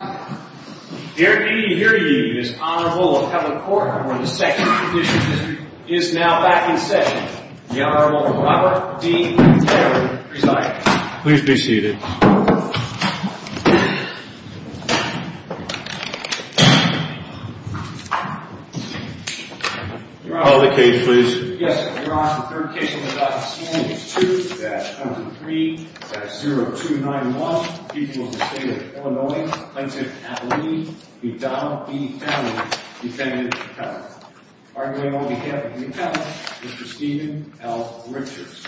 The Air and Air Union's Honorable Appellate Court for the Second Condition District is now back in session. The Honorable Robert D. Taylor presides. Please be seated. Call the case, please. Yes, Your Honor. The third case we would like to examine is 2-103-0291, People of the State of Illinois Plaintiff Appellee McDonnell v. Downey, defendant appellate. Arguing on behalf of the appellate, Mr. Stephen L. Richards.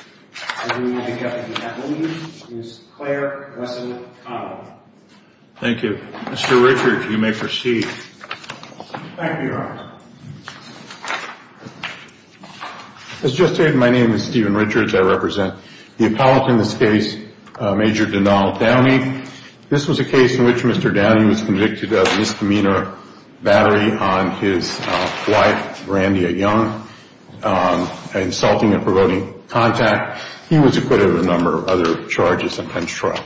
Arguing on behalf of the appellee is Claire Wesson Connell. Thank you. Mr. Richards, you may proceed. Thank you, Your Honor. As just stated, my name is Stephen Richards. I represent the appellate in this case, Major Donnell Downey. This was a case in which Mr. Downey was convicted of misdemeanor battery on his wife, Brandia Young, insulting and provoking contact. He was acquitted of a number of other charges and penched trial.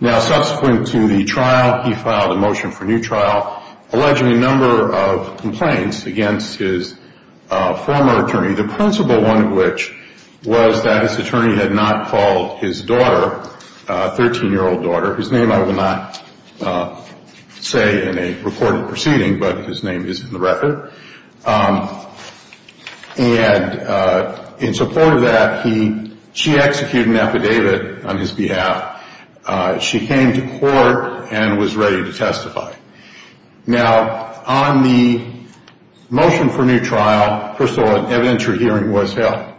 Now, subsequent to the trial, he filed a motion for new trial, alleging a number of complaints against his former attorney, the principal one of which was that his attorney had not called his daughter, a 13-year-old daughter, whose name I will not say in a recorded proceeding, but his name is in the record. And in support of that, she executed an affidavit on his behalf. Now, on the motion for new trial, first of all, an evidentiary hearing was held.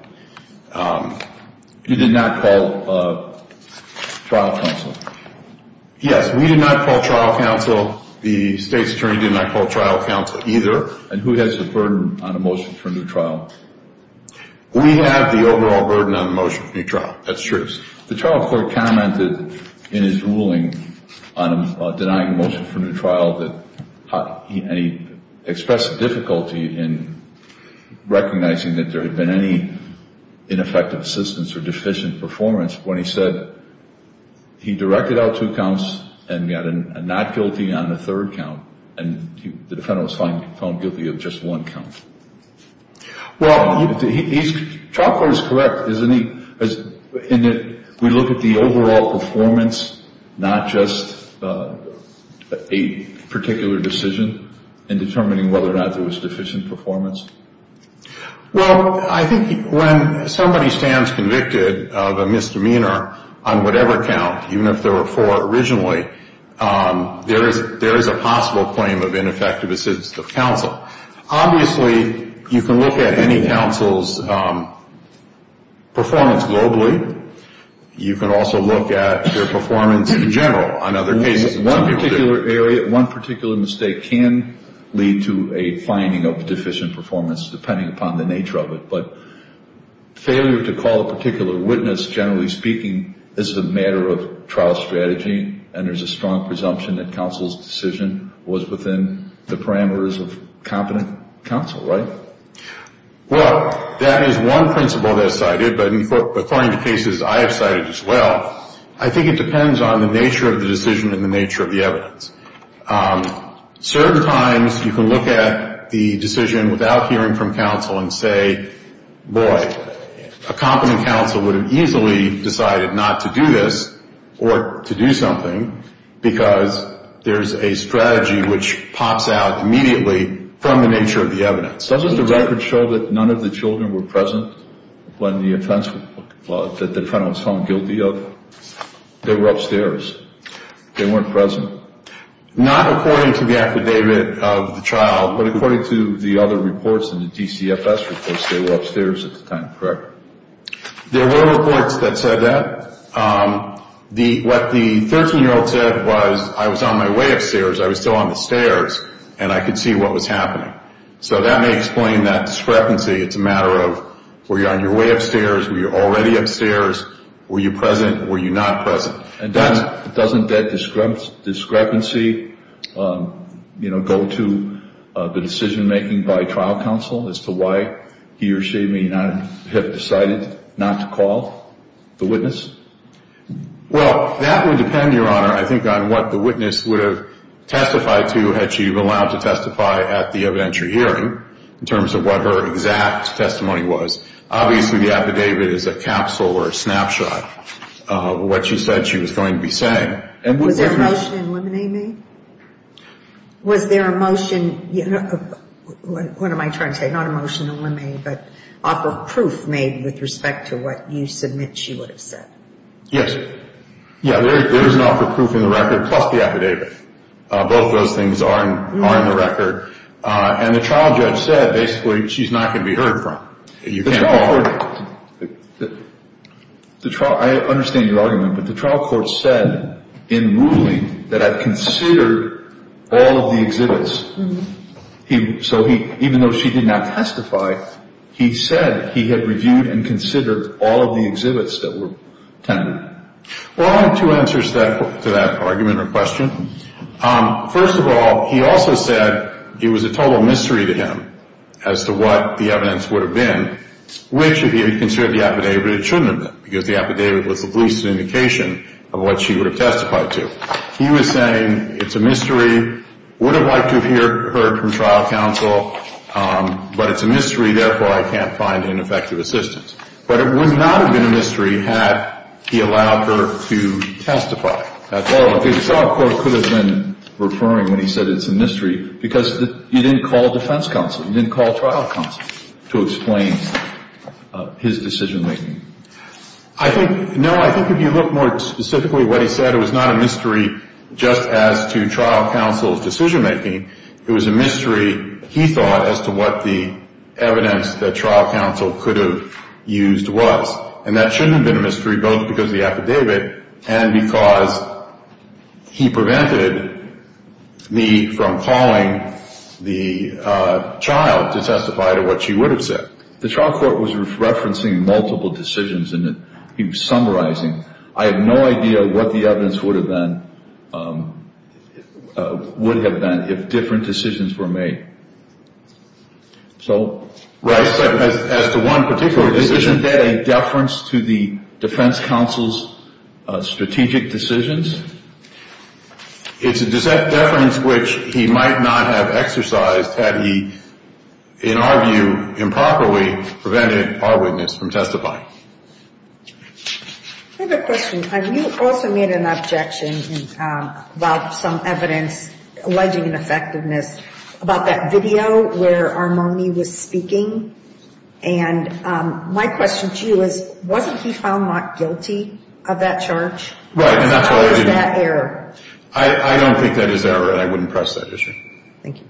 You did not call trial counsel? Yes, we did not call trial counsel. The state's attorney did not call trial counsel either. And who has the burden on a motion for new trial? We have the overall burden on the motion for new trial. That's true. The trial court commented in his ruling on denying motion for new trial that he expressed difficulty in recognizing that there had been any ineffective assistance or deficient performance when he said he directed out two counts and got a not guilty on the third count, and the defendant was found guilty of just one count. Well, the trial court is correct, isn't he? In that we look at the overall performance, not just a particular decision in determining whether or not there was deficient performance? Well, I think when somebody stands convicted of a misdemeanor on whatever count, even if there were four originally, there is a possible claim of ineffective assistance of counsel. Obviously, you can look at any counsel's performance globally. You can also look at their performance in general on other cases. One particular area, one particular mistake can lead to a finding of deficient performance depending upon the nature of it. But failure to call a particular witness, generally speaking, is a matter of trial strategy, and there's a strong presumption that counsel's decision was within the parameters of competent counsel, right? Well, that is one principle that is cited, but according to cases I have cited as well, I think it depends on the nature of the decision and the nature of the evidence. Certain times you can look at the decision without hearing from counsel and say, boy, a competent counsel would have easily decided not to do this or to do something because there's a strategy which pops out immediately from the nature of the evidence. Doesn't the record show that none of the children were present when the offense that the defendant was found guilty of? They were upstairs. They weren't present. Not according to the affidavit of the child, but according to the other reports and the DCFS reports, they were upstairs at the time, correct? There were reports that said that. What the 13-year-old said was, I was on my way upstairs, I was still on the stairs, and I could see what was happening. So that may explain that discrepancy. It's a matter of were you on your way upstairs, were you already upstairs, were you present, were you not present. Doesn't that discrepancy go to the decision-making by trial counsel as to why he or she may not have decided not to call the witness? Well, that would depend, Your Honor, I think, on what the witness would have testified to had she been allowed to testify at the evidentiary hearing in terms of what her exact testimony was. Obviously, the affidavit is a capsule or a snapshot. What she said she was going to be saying. Was there a motion in limine? Was there a motion, what am I trying to say, not a motion in limine, but offer proof made with respect to what you submit she would have said? Yes. Yeah, there is an offer of proof in the record, plus the affidavit. Both of those things are in the record. And the trial judge said, basically, she's not going to be heard from. The trial court, I understand your argument, but the trial court said in ruling that I've considered all of the exhibits. So even though she did not testify, he said he had reviewed and considered all of the exhibits that were tended. Well, I have two answers to that argument or question. First of all, he also said it was a total mystery to him as to what the evidence would have been, which if he had considered the affidavit, it shouldn't have been, because the affidavit was at least an indication of what she would have testified to. He was saying it's a mystery, would have liked to have heard from trial counsel, but it's a mystery, therefore I can't find an effective assistance. But it would not have been a mystery had he allowed her to testify. Well, the trial court could have been referring when he said it's a mystery because you didn't call defense counsel, you didn't call trial counsel to explain his decision-making. I think, no, I think if you look more specifically at what he said, it was not a mystery just as to trial counsel's decision-making. It was a mystery, he thought, as to what the evidence that trial counsel could have used was. And that shouldn't have been a mystery both because of the affidavit and because he prevented me from calling the child to testify to what she would have said. The trial court was referencing multiple decisions and he was summarizing. I have no idea what the evidence would have been if different decisions were made. Right, as to one particular decision. Isn't that a deference to the defense counsel's strategic decisions? It's a deference which he might not have exercised had he, in our view, improperly prevented our witness from testifying. I have a question. You also made an objection about some evidence, alleging an effectiveness, about that video where Armoni was speaking. And my question to you is, wasn't he found not guilty of that charge? How is that error? I don't think that is error and I wouldn't press that issue. Thank you.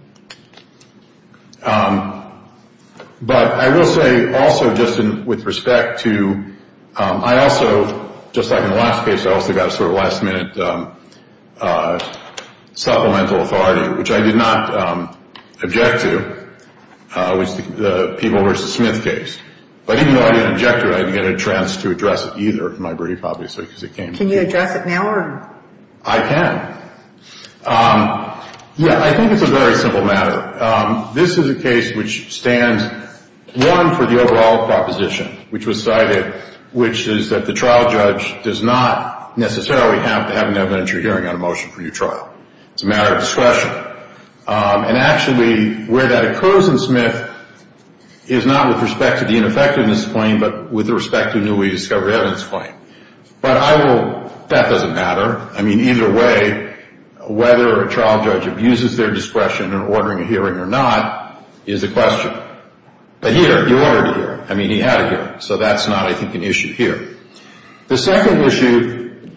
But I will say also just with respect to, I also, just like in the last case, I also got a sort of last minute supplemental authority, which I did not object to, was the Peeble v. Smith case. But even though I didn't object to it, I didn't get a chance to address it either in my brief, obviously, because it came to me. Can you address it now? I can. Yeah, I think it's a very simple matter. This is a case which stands, one, for the overall proposition, which was cited, which is that the trial judge does not necessarily have to have an evidentiary hearing on a motion for your trial. It's a matter of discretion. And actually, where that occurs in Smith is not with respect to the ineffectiveness claim, but with respect to the newly discovered evidence claim. But I will, that doesn't matter. I mean, either way, whether a trial judge abuses their discretion in ordering a hearing or not is a question. But here, he ordered a hearing. I mean, he had a hearing. So that's not, I think, an issue here. The second issue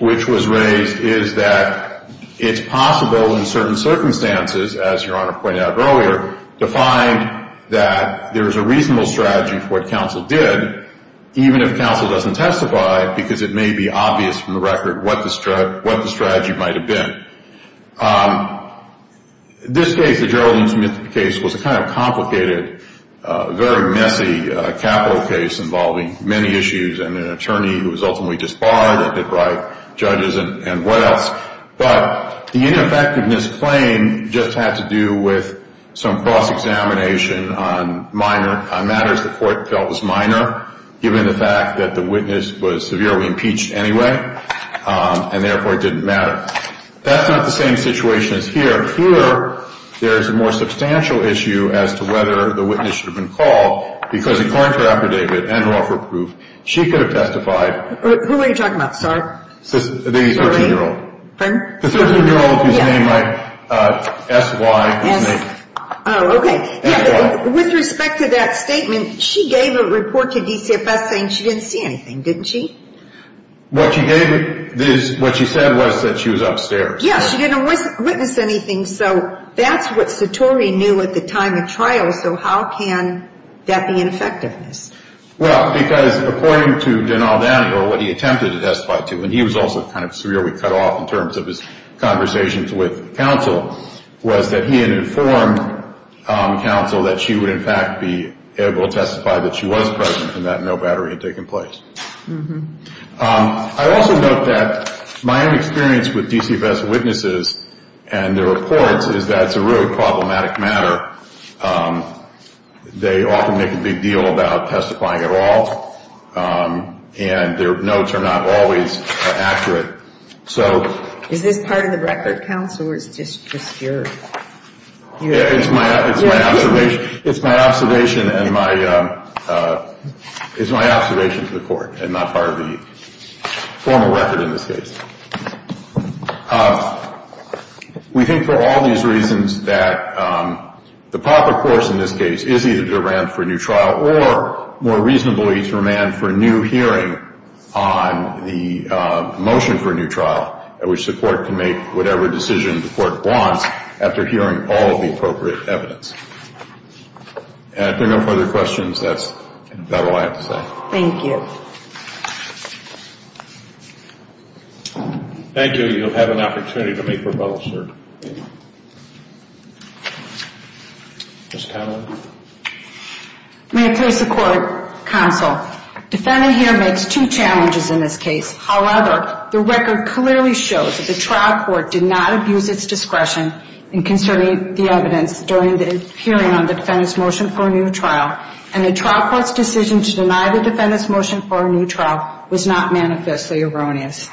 which was raised is that it's possible in certain circumstances, as Your Honor pointed out earlier, to find that there is a reasonable strategy for what counsel did, even if counsel doesn't testify, because it may be obvious from the record what the strategy might have been. This case, the Geraldine Smith case, was a kind of complicated, very messy capital case involving many issues and an attorney who was ultimately disbarred and hit by judges and what else. But the ineffectiveness claim just had to do with some cross-examination on matters the court felt was minor, given the fact that the witness was severely impeached anyway, and therefore it didn't matter. That's not the same situation as here. Here, there is a more substantial issue as to whether the witness should have been called, because according to her affidavit and her offer of proof, she could have testified. Who are you talking about? Sorry. The 13-year-old. Pardon? The 13-year-old whose name I, S-Y, whose name. Oh, okay. With respect to that statement, she gave a report to DCFS saying she didn't see anything, didn't she? What she gave, what she said was that she was upstairs. Yes, she didn't witness anything, so that's what Satori knew at the time of trial, so how can that be ineffectiveness? Well, because according to Denald Daniel, what he attempted to testify to, and he was also kind of severely cut off in terms of his conversations with counsel, was that he had informed counsel that she would, in fact, be able to testify that she was present and that no battery had taken place. I also note that my own experience with DCFS witnesses and their reports is that it's a really problematic matter. They often make a big deal about testifying at all, and their notes are not always accurate. So. Is this part of the record, counsel, or it's just your? It's my observation. It's my observation and my, it's my observation to the court and not part of the formal record in this case. We think for all these reasons that the proper course in this case is either to remand for a new trial or, more reasonably, to remand for a new hearing on the motion for a new trial, at which the court can make whatever decision the court wants after hearing all of the appropriate evidence. If there are no further questions, that's all I have to say. Thank you. Thank you. You'll have an opportunity to make rebuttals here. Ms. Conlon. May I please support counsel? Defending here makes two challenges in this case. However, the record clearly shows that the trial court did not abuse its discretion in concerning the evidence during the hearing on the defendant's motion for a new trial, and the trial court's decision to deny the defendant's motion for a new trial was not manifestly erroneous.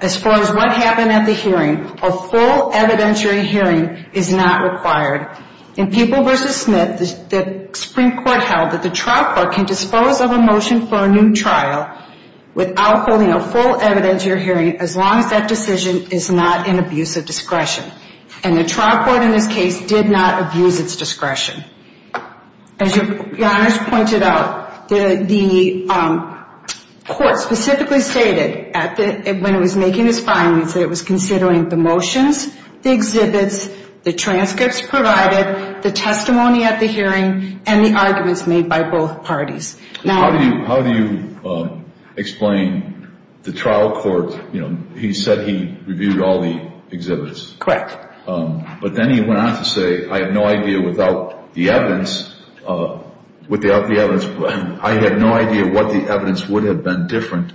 As far as what happened at the hearing, a full evidentiary hearing is not required. In People v. Smith, the Supreme Court held that the trial court can dispose of a motion for a new trial without holding a full evidentiary hearing as long as that decision is not in abuse of discretion. And the trial court in this case did not abuse its discretion. As your honors pointed out, the court specifically stated when it was making its findings that it was considering the motions, the exhibits, the transcripts provided, the testimony at the hearing, and the arguments made by both parties. How do you explain the trial court, you know, he said he reviewed all the exhibits. Correct. But then he went on to say, I have no idea what the evidence would have been different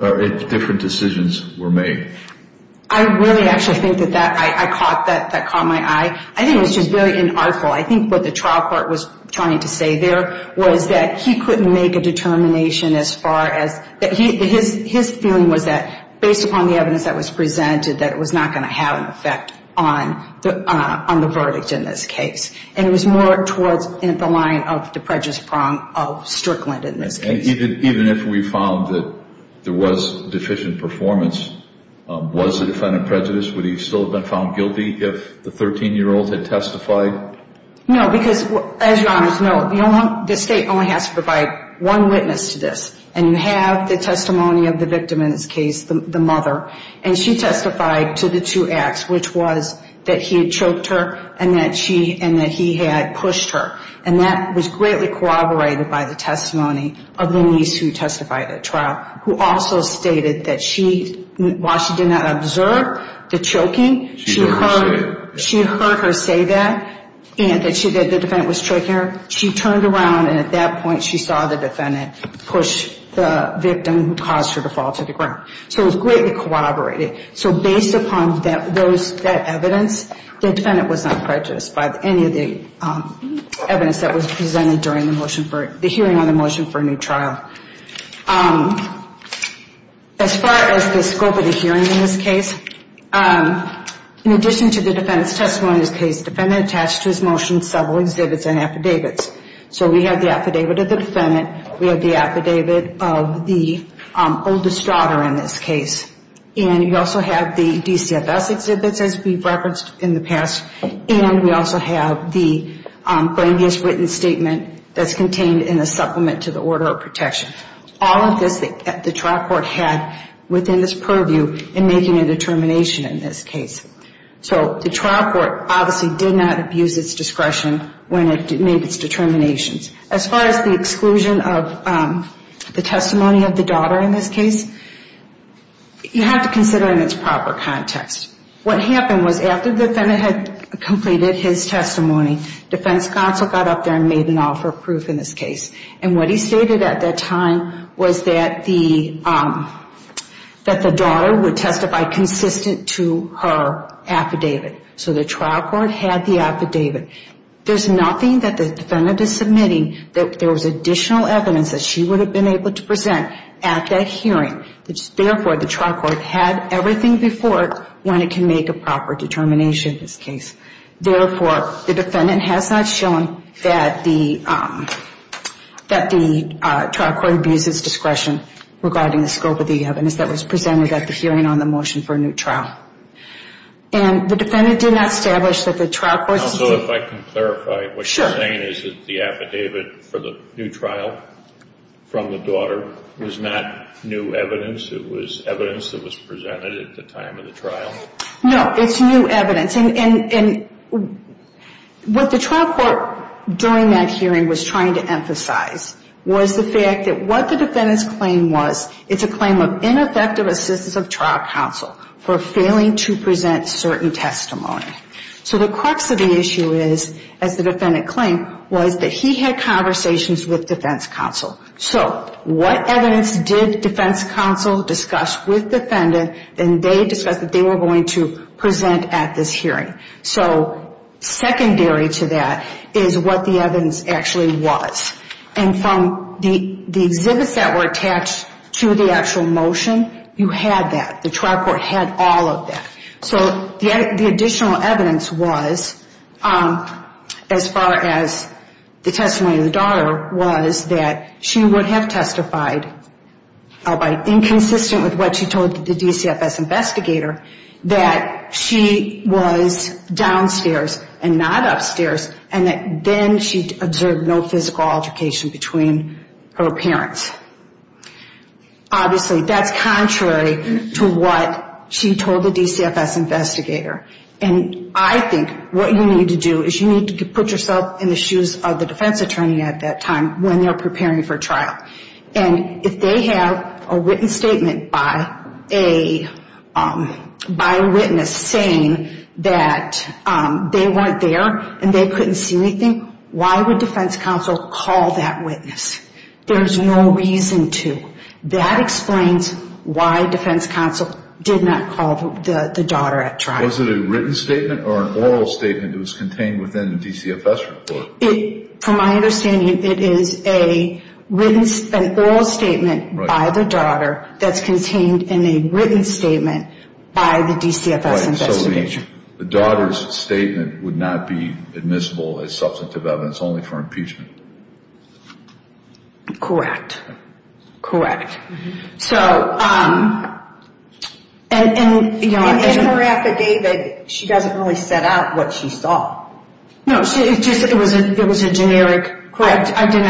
if different decisions were made. I really actually think that that caught my eye. I think it was just very inartful. I think what the trial court was trying to say there was that he couldn't make a determination as far as his feeling was that based upon the evidence that was presented, that it was not going to have an effect on the verdict in this case. And it was more towards the line of the prejudice prong of Strickland in this case. Even if we found that there was deficient performance, was the defendant prejudiced? Would he still have been found guilty if the 13-year-old had testified? No, because as your honors know, the state only has to provide one witness to this. And you have the testimony of the victim in this case, the mother. And she testified to the two acts, which was that he had choked her and that he had pushed her. And that was greatly corroborated by the testimony of the niece who testified at trial, who also stated that while she did not observe the choking, she heard her say that, and that the defendant was choking her. She turned around and at that point she saw the defendant push the victim who caused her to fall to the ground. So it was greatly corroborated. So based upon that evidence, the defendant was not prejudiced by any of the evidence that was presented during the hearing on the motion for a new trial. As far as the scope of the hearing in this case, in addition to the defendant's testimony in this case, the defendant attached to his motion several exhibits and affidavits. So we have the affidavit of the defendant. We have the affidavit of the oldest daughter in this case. And we also have the DCFS exhibits, as we've referenced in the past. And we also have the grievous written statement that's contained in the supplement to the order of protection. All of this the trial court had within its purview in making a determination in this case. So the trial court obviously did not abuse its discretion when it made its determinations. As far as the exclusion of the testimony of the daughter in this case, you have to consider in its proper context. What happened was after the defendant had completed his testimony, defense counsel got up there and made an offer of proof in this case. And what he stated at that time was that the daughter would testify consistent to her affidavit. So the trial court had the affidavit. There's nothing that the defendant is submitting that there was additional evidence that she would have been able to present at that hearing. Therefore, the trial court had everything before it when it can make a proper determination in this case. Therefore, the defendant has not shown that the trial court abuses discretion regarding the scope of the evidence that was presented at the hearing on the motion for a new trial. And the defendant did not establish that the trial court's- Also, if I can clarify, what you're saying is that the affidavit for the new trial from the daughter was not new evidence. It was evidence that was presented at the time of the trial? No, it's new evidence. And what the trial court during that hearing was trying to emphasize was the fact that what the defendant's claim was, it's a claim of ineffective assistance of trial counsel for failing to present certain testimony. So the crux of the issue is, as the defendant claimed, was that he had conversations with defense counsel. So what evidence did defense counsel discuss with the defendant that they discussed that they were going to present at this hearing? So secondary to that is what the evidence actually was. And from the exhibits that were attached to the actual motion, you had that. The trial court had all of that. So the additional evidence was, as far as the testimony of the daughter was, that she would have testified, inconsistent with what she told the DCFS investigator, that she was downstairs and not upstairs, and that then she observed no physical altercation between her parents. Obviously, that's contrary to what she told the DCFS investigator. And I think what you need to do is you need to put yourself in the shoes of the defense attorney at that time when they're preparing for trial. And if they have a written statement by a witness saying that they weren't there and they couldn't see anything, why would defense counsel call that witness? There's no reason to. That explains why defense counsel did not call the daughter at trial. Was it a written statement or an oral statement that was contained within the DCFS report? From my understanding, it is an oral statement by the daughter that's contained in a written statement by the DCFS investigator. And so the daughter's statement would not be admissible as substantive evidence only for impeachment? Correct. Correct. So in her affidavit, she doesn't really set out what she saw. No, it was a generic. Correct. I did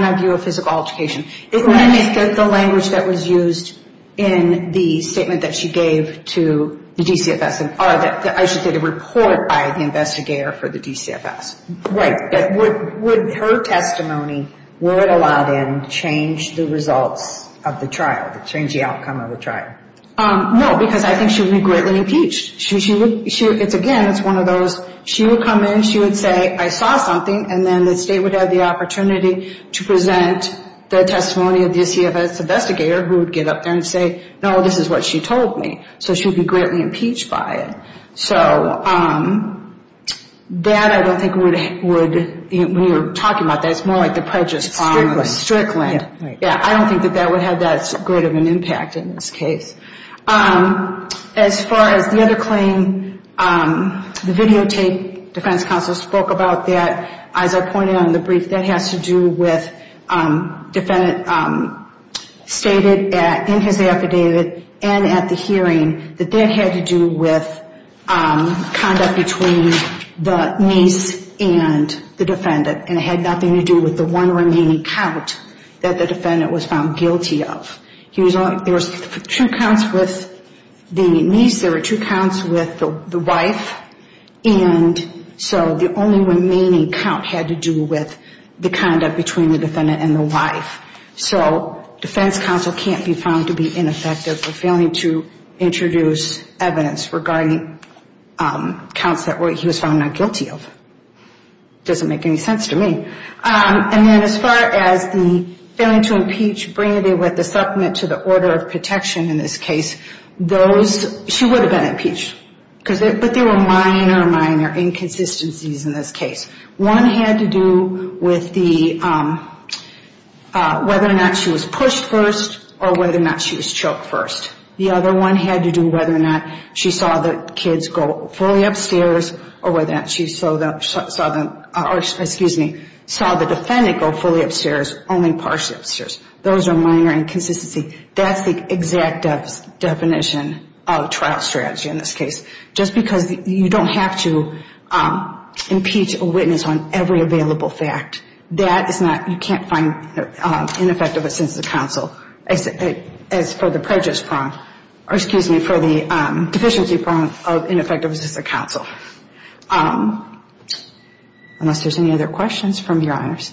not view a physical altercation. It meant that the language that was used in the statement that she gave to the DCFS, or I should say the report by the investigator for the DCFS. Right. Would her testimony, were it allowed in, change the results of the trial, change the outcome of the trial? No, because I think she would be greatly impeached. Again, it's one of those, she would come in, she would say, I saw something, and then the state would have the opportunity to present the testimony of the DCFS investigator, who would get up there and say, no, this is what she told me. So she would be greatly impeached by it. So that I don't think would, when you're talking about that, it's more like the prejudice on Strickland. Yeah, right. Yeah, I don't think that that would have that great of an impact in this case. As far as the other claim, the videotape defense counsel spoke about that. As I pointed out in the brief, that has to do with defendant stated in his affidavit and at the hearing that that had to do with conduct between the niece and the defendant, and it had nothing to do with the one remaining count that the defendant was found guilty of. There were two counts with the niece, there were two counts with the wife, and so the only remaining count had to do with the conduct between the defendant and the wife. So defense counsel can't be found to be ineffective for failing to introduce evidence regarding counts that he was found not guilty of. Doesn't make any sense to me. And then as far as the failing to impeach, bringing it with the supplement to the order of protection in this case, those, she would have been impeached. But there were minor, minor inconsistencies in this case. One had to do with the, whether or not she was pushed first or whether or not she was choked first. The other one had to do whether or not she saw the kids go fully upstairs or whether or not she saw the defendant go fully upstairs, only partially upstairs. Those are minor inconsistencies. That's the exact definition of trial strategy in this case. Just because you don't have to impeach a witness on every available fact, that is not, you can't find ineffective assistance of counsel, as for the prejudice prong, or excuse me, for the deficiency prong of ineffective assistance of counsel. Unless there's any other questions from Your Honors.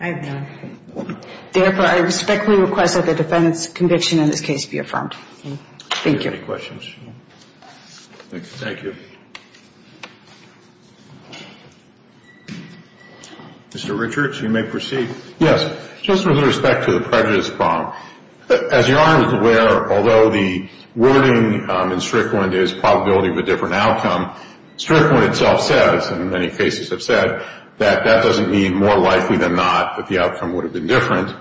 I have none. Therefore, I respectfully request that the defendant's conviction in this case be affirmed. Thank you. Any questions? Thank you. Mr. Richards, you may proceed. Yes. Just with respect to the prejudice prong. As Your Honor is aware, although the wording in Strickland is probability of a different outcome, Strickland itself says, and many cases have said, that that doesn't mean more likely than not that the outcome would have been different.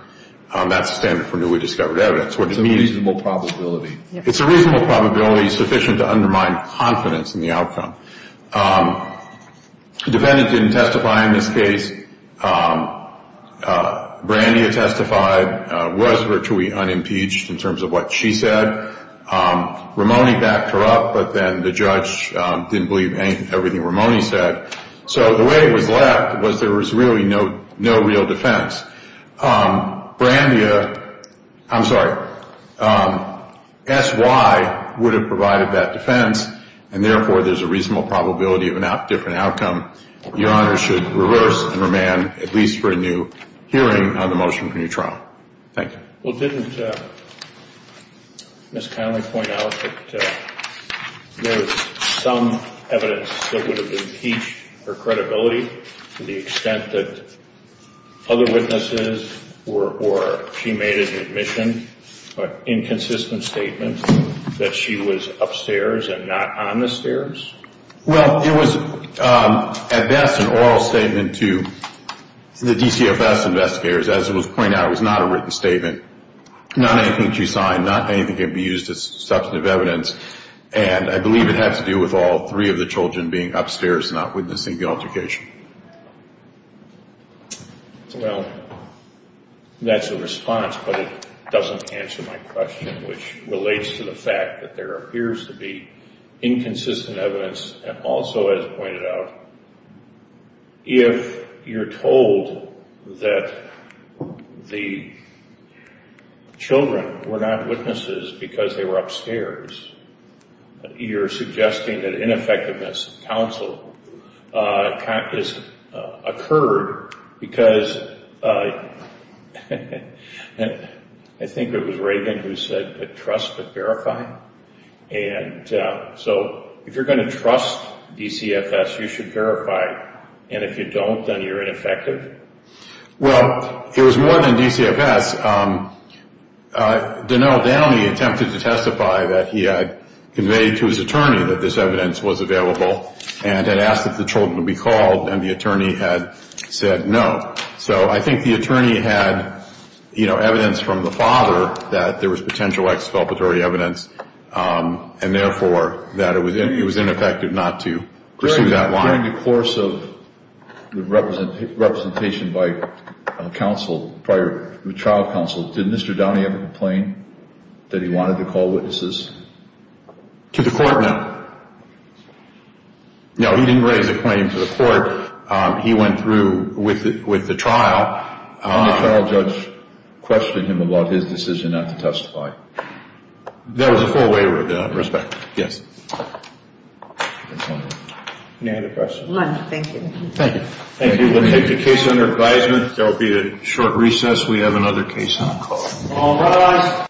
That's the standard for newly discovered evidence. It's a reasonable probability. It's a reasonable probability sufficient to undermine confidence in the outcome. The defendant didn't testify in this case. Brandia testified, was virtually unimpeached in terms of what she said. Ramoney backed her up, but then the judge didn't believe everything Ramoney said. So the way it was left was there was really no real defense. Brandia, I'm sorry, S.Y. would have provided that defense, and therefore there's a reasonable probability of a different outcome. Your Honor should reverse and remand at least for a new hearing on the motion for new trial. Thank you. Well, didn't Ms. Connelly point out that there was some evidence that would have impeached her credibility to the extent that other witnesses or she made an admission, inconsistent statement, that she was upstairs and not on the stairs? Well, it was at best an oral statement to the DCFS investigators. As was pointed out, it was not a written statement. Not anything she signed, not anything can be used as substantive evidence, and I believe it had to do with all three of the children being upstairs and not witnessing the altercation. Well, that's a response, but it doesn't answer my question, which relates to the fact that there appears to be inconsistent evidence, and also, as pointed out, if you're told that the children were not witnesses because they were upstairs, you're suggesting that ineffectiveness of counsel has occurred, because I think it was Reagan who said that trust but verify, and so if you're going to trust DCFS, you should verify, and if you don't, then you're ineffective? Well, it was more than DCFS. Donnell Downey attempted to testify that he had conveyed to his attorney that this evidence was available and had asked that the children be called, and the attorney had said no. So I think the attorney had evidence from the father that there was potential exculpatory evidence, and therefore that it was ineffective not to pursue that line. During the course of the representation by counsel prior to the trial counsel, did Mr. Downey ever complain that he wanted to call witnesses? To the court, no. No, he didn't raise a claim to the court. He went through with the trial. Did the trial judge question him about his decision not to testify? There was a full waiver of that respect, yes. Any other questions? None, thank you. Thank you. We'll take the case under advisement. There will be a short recess. We have another case on call. All rise.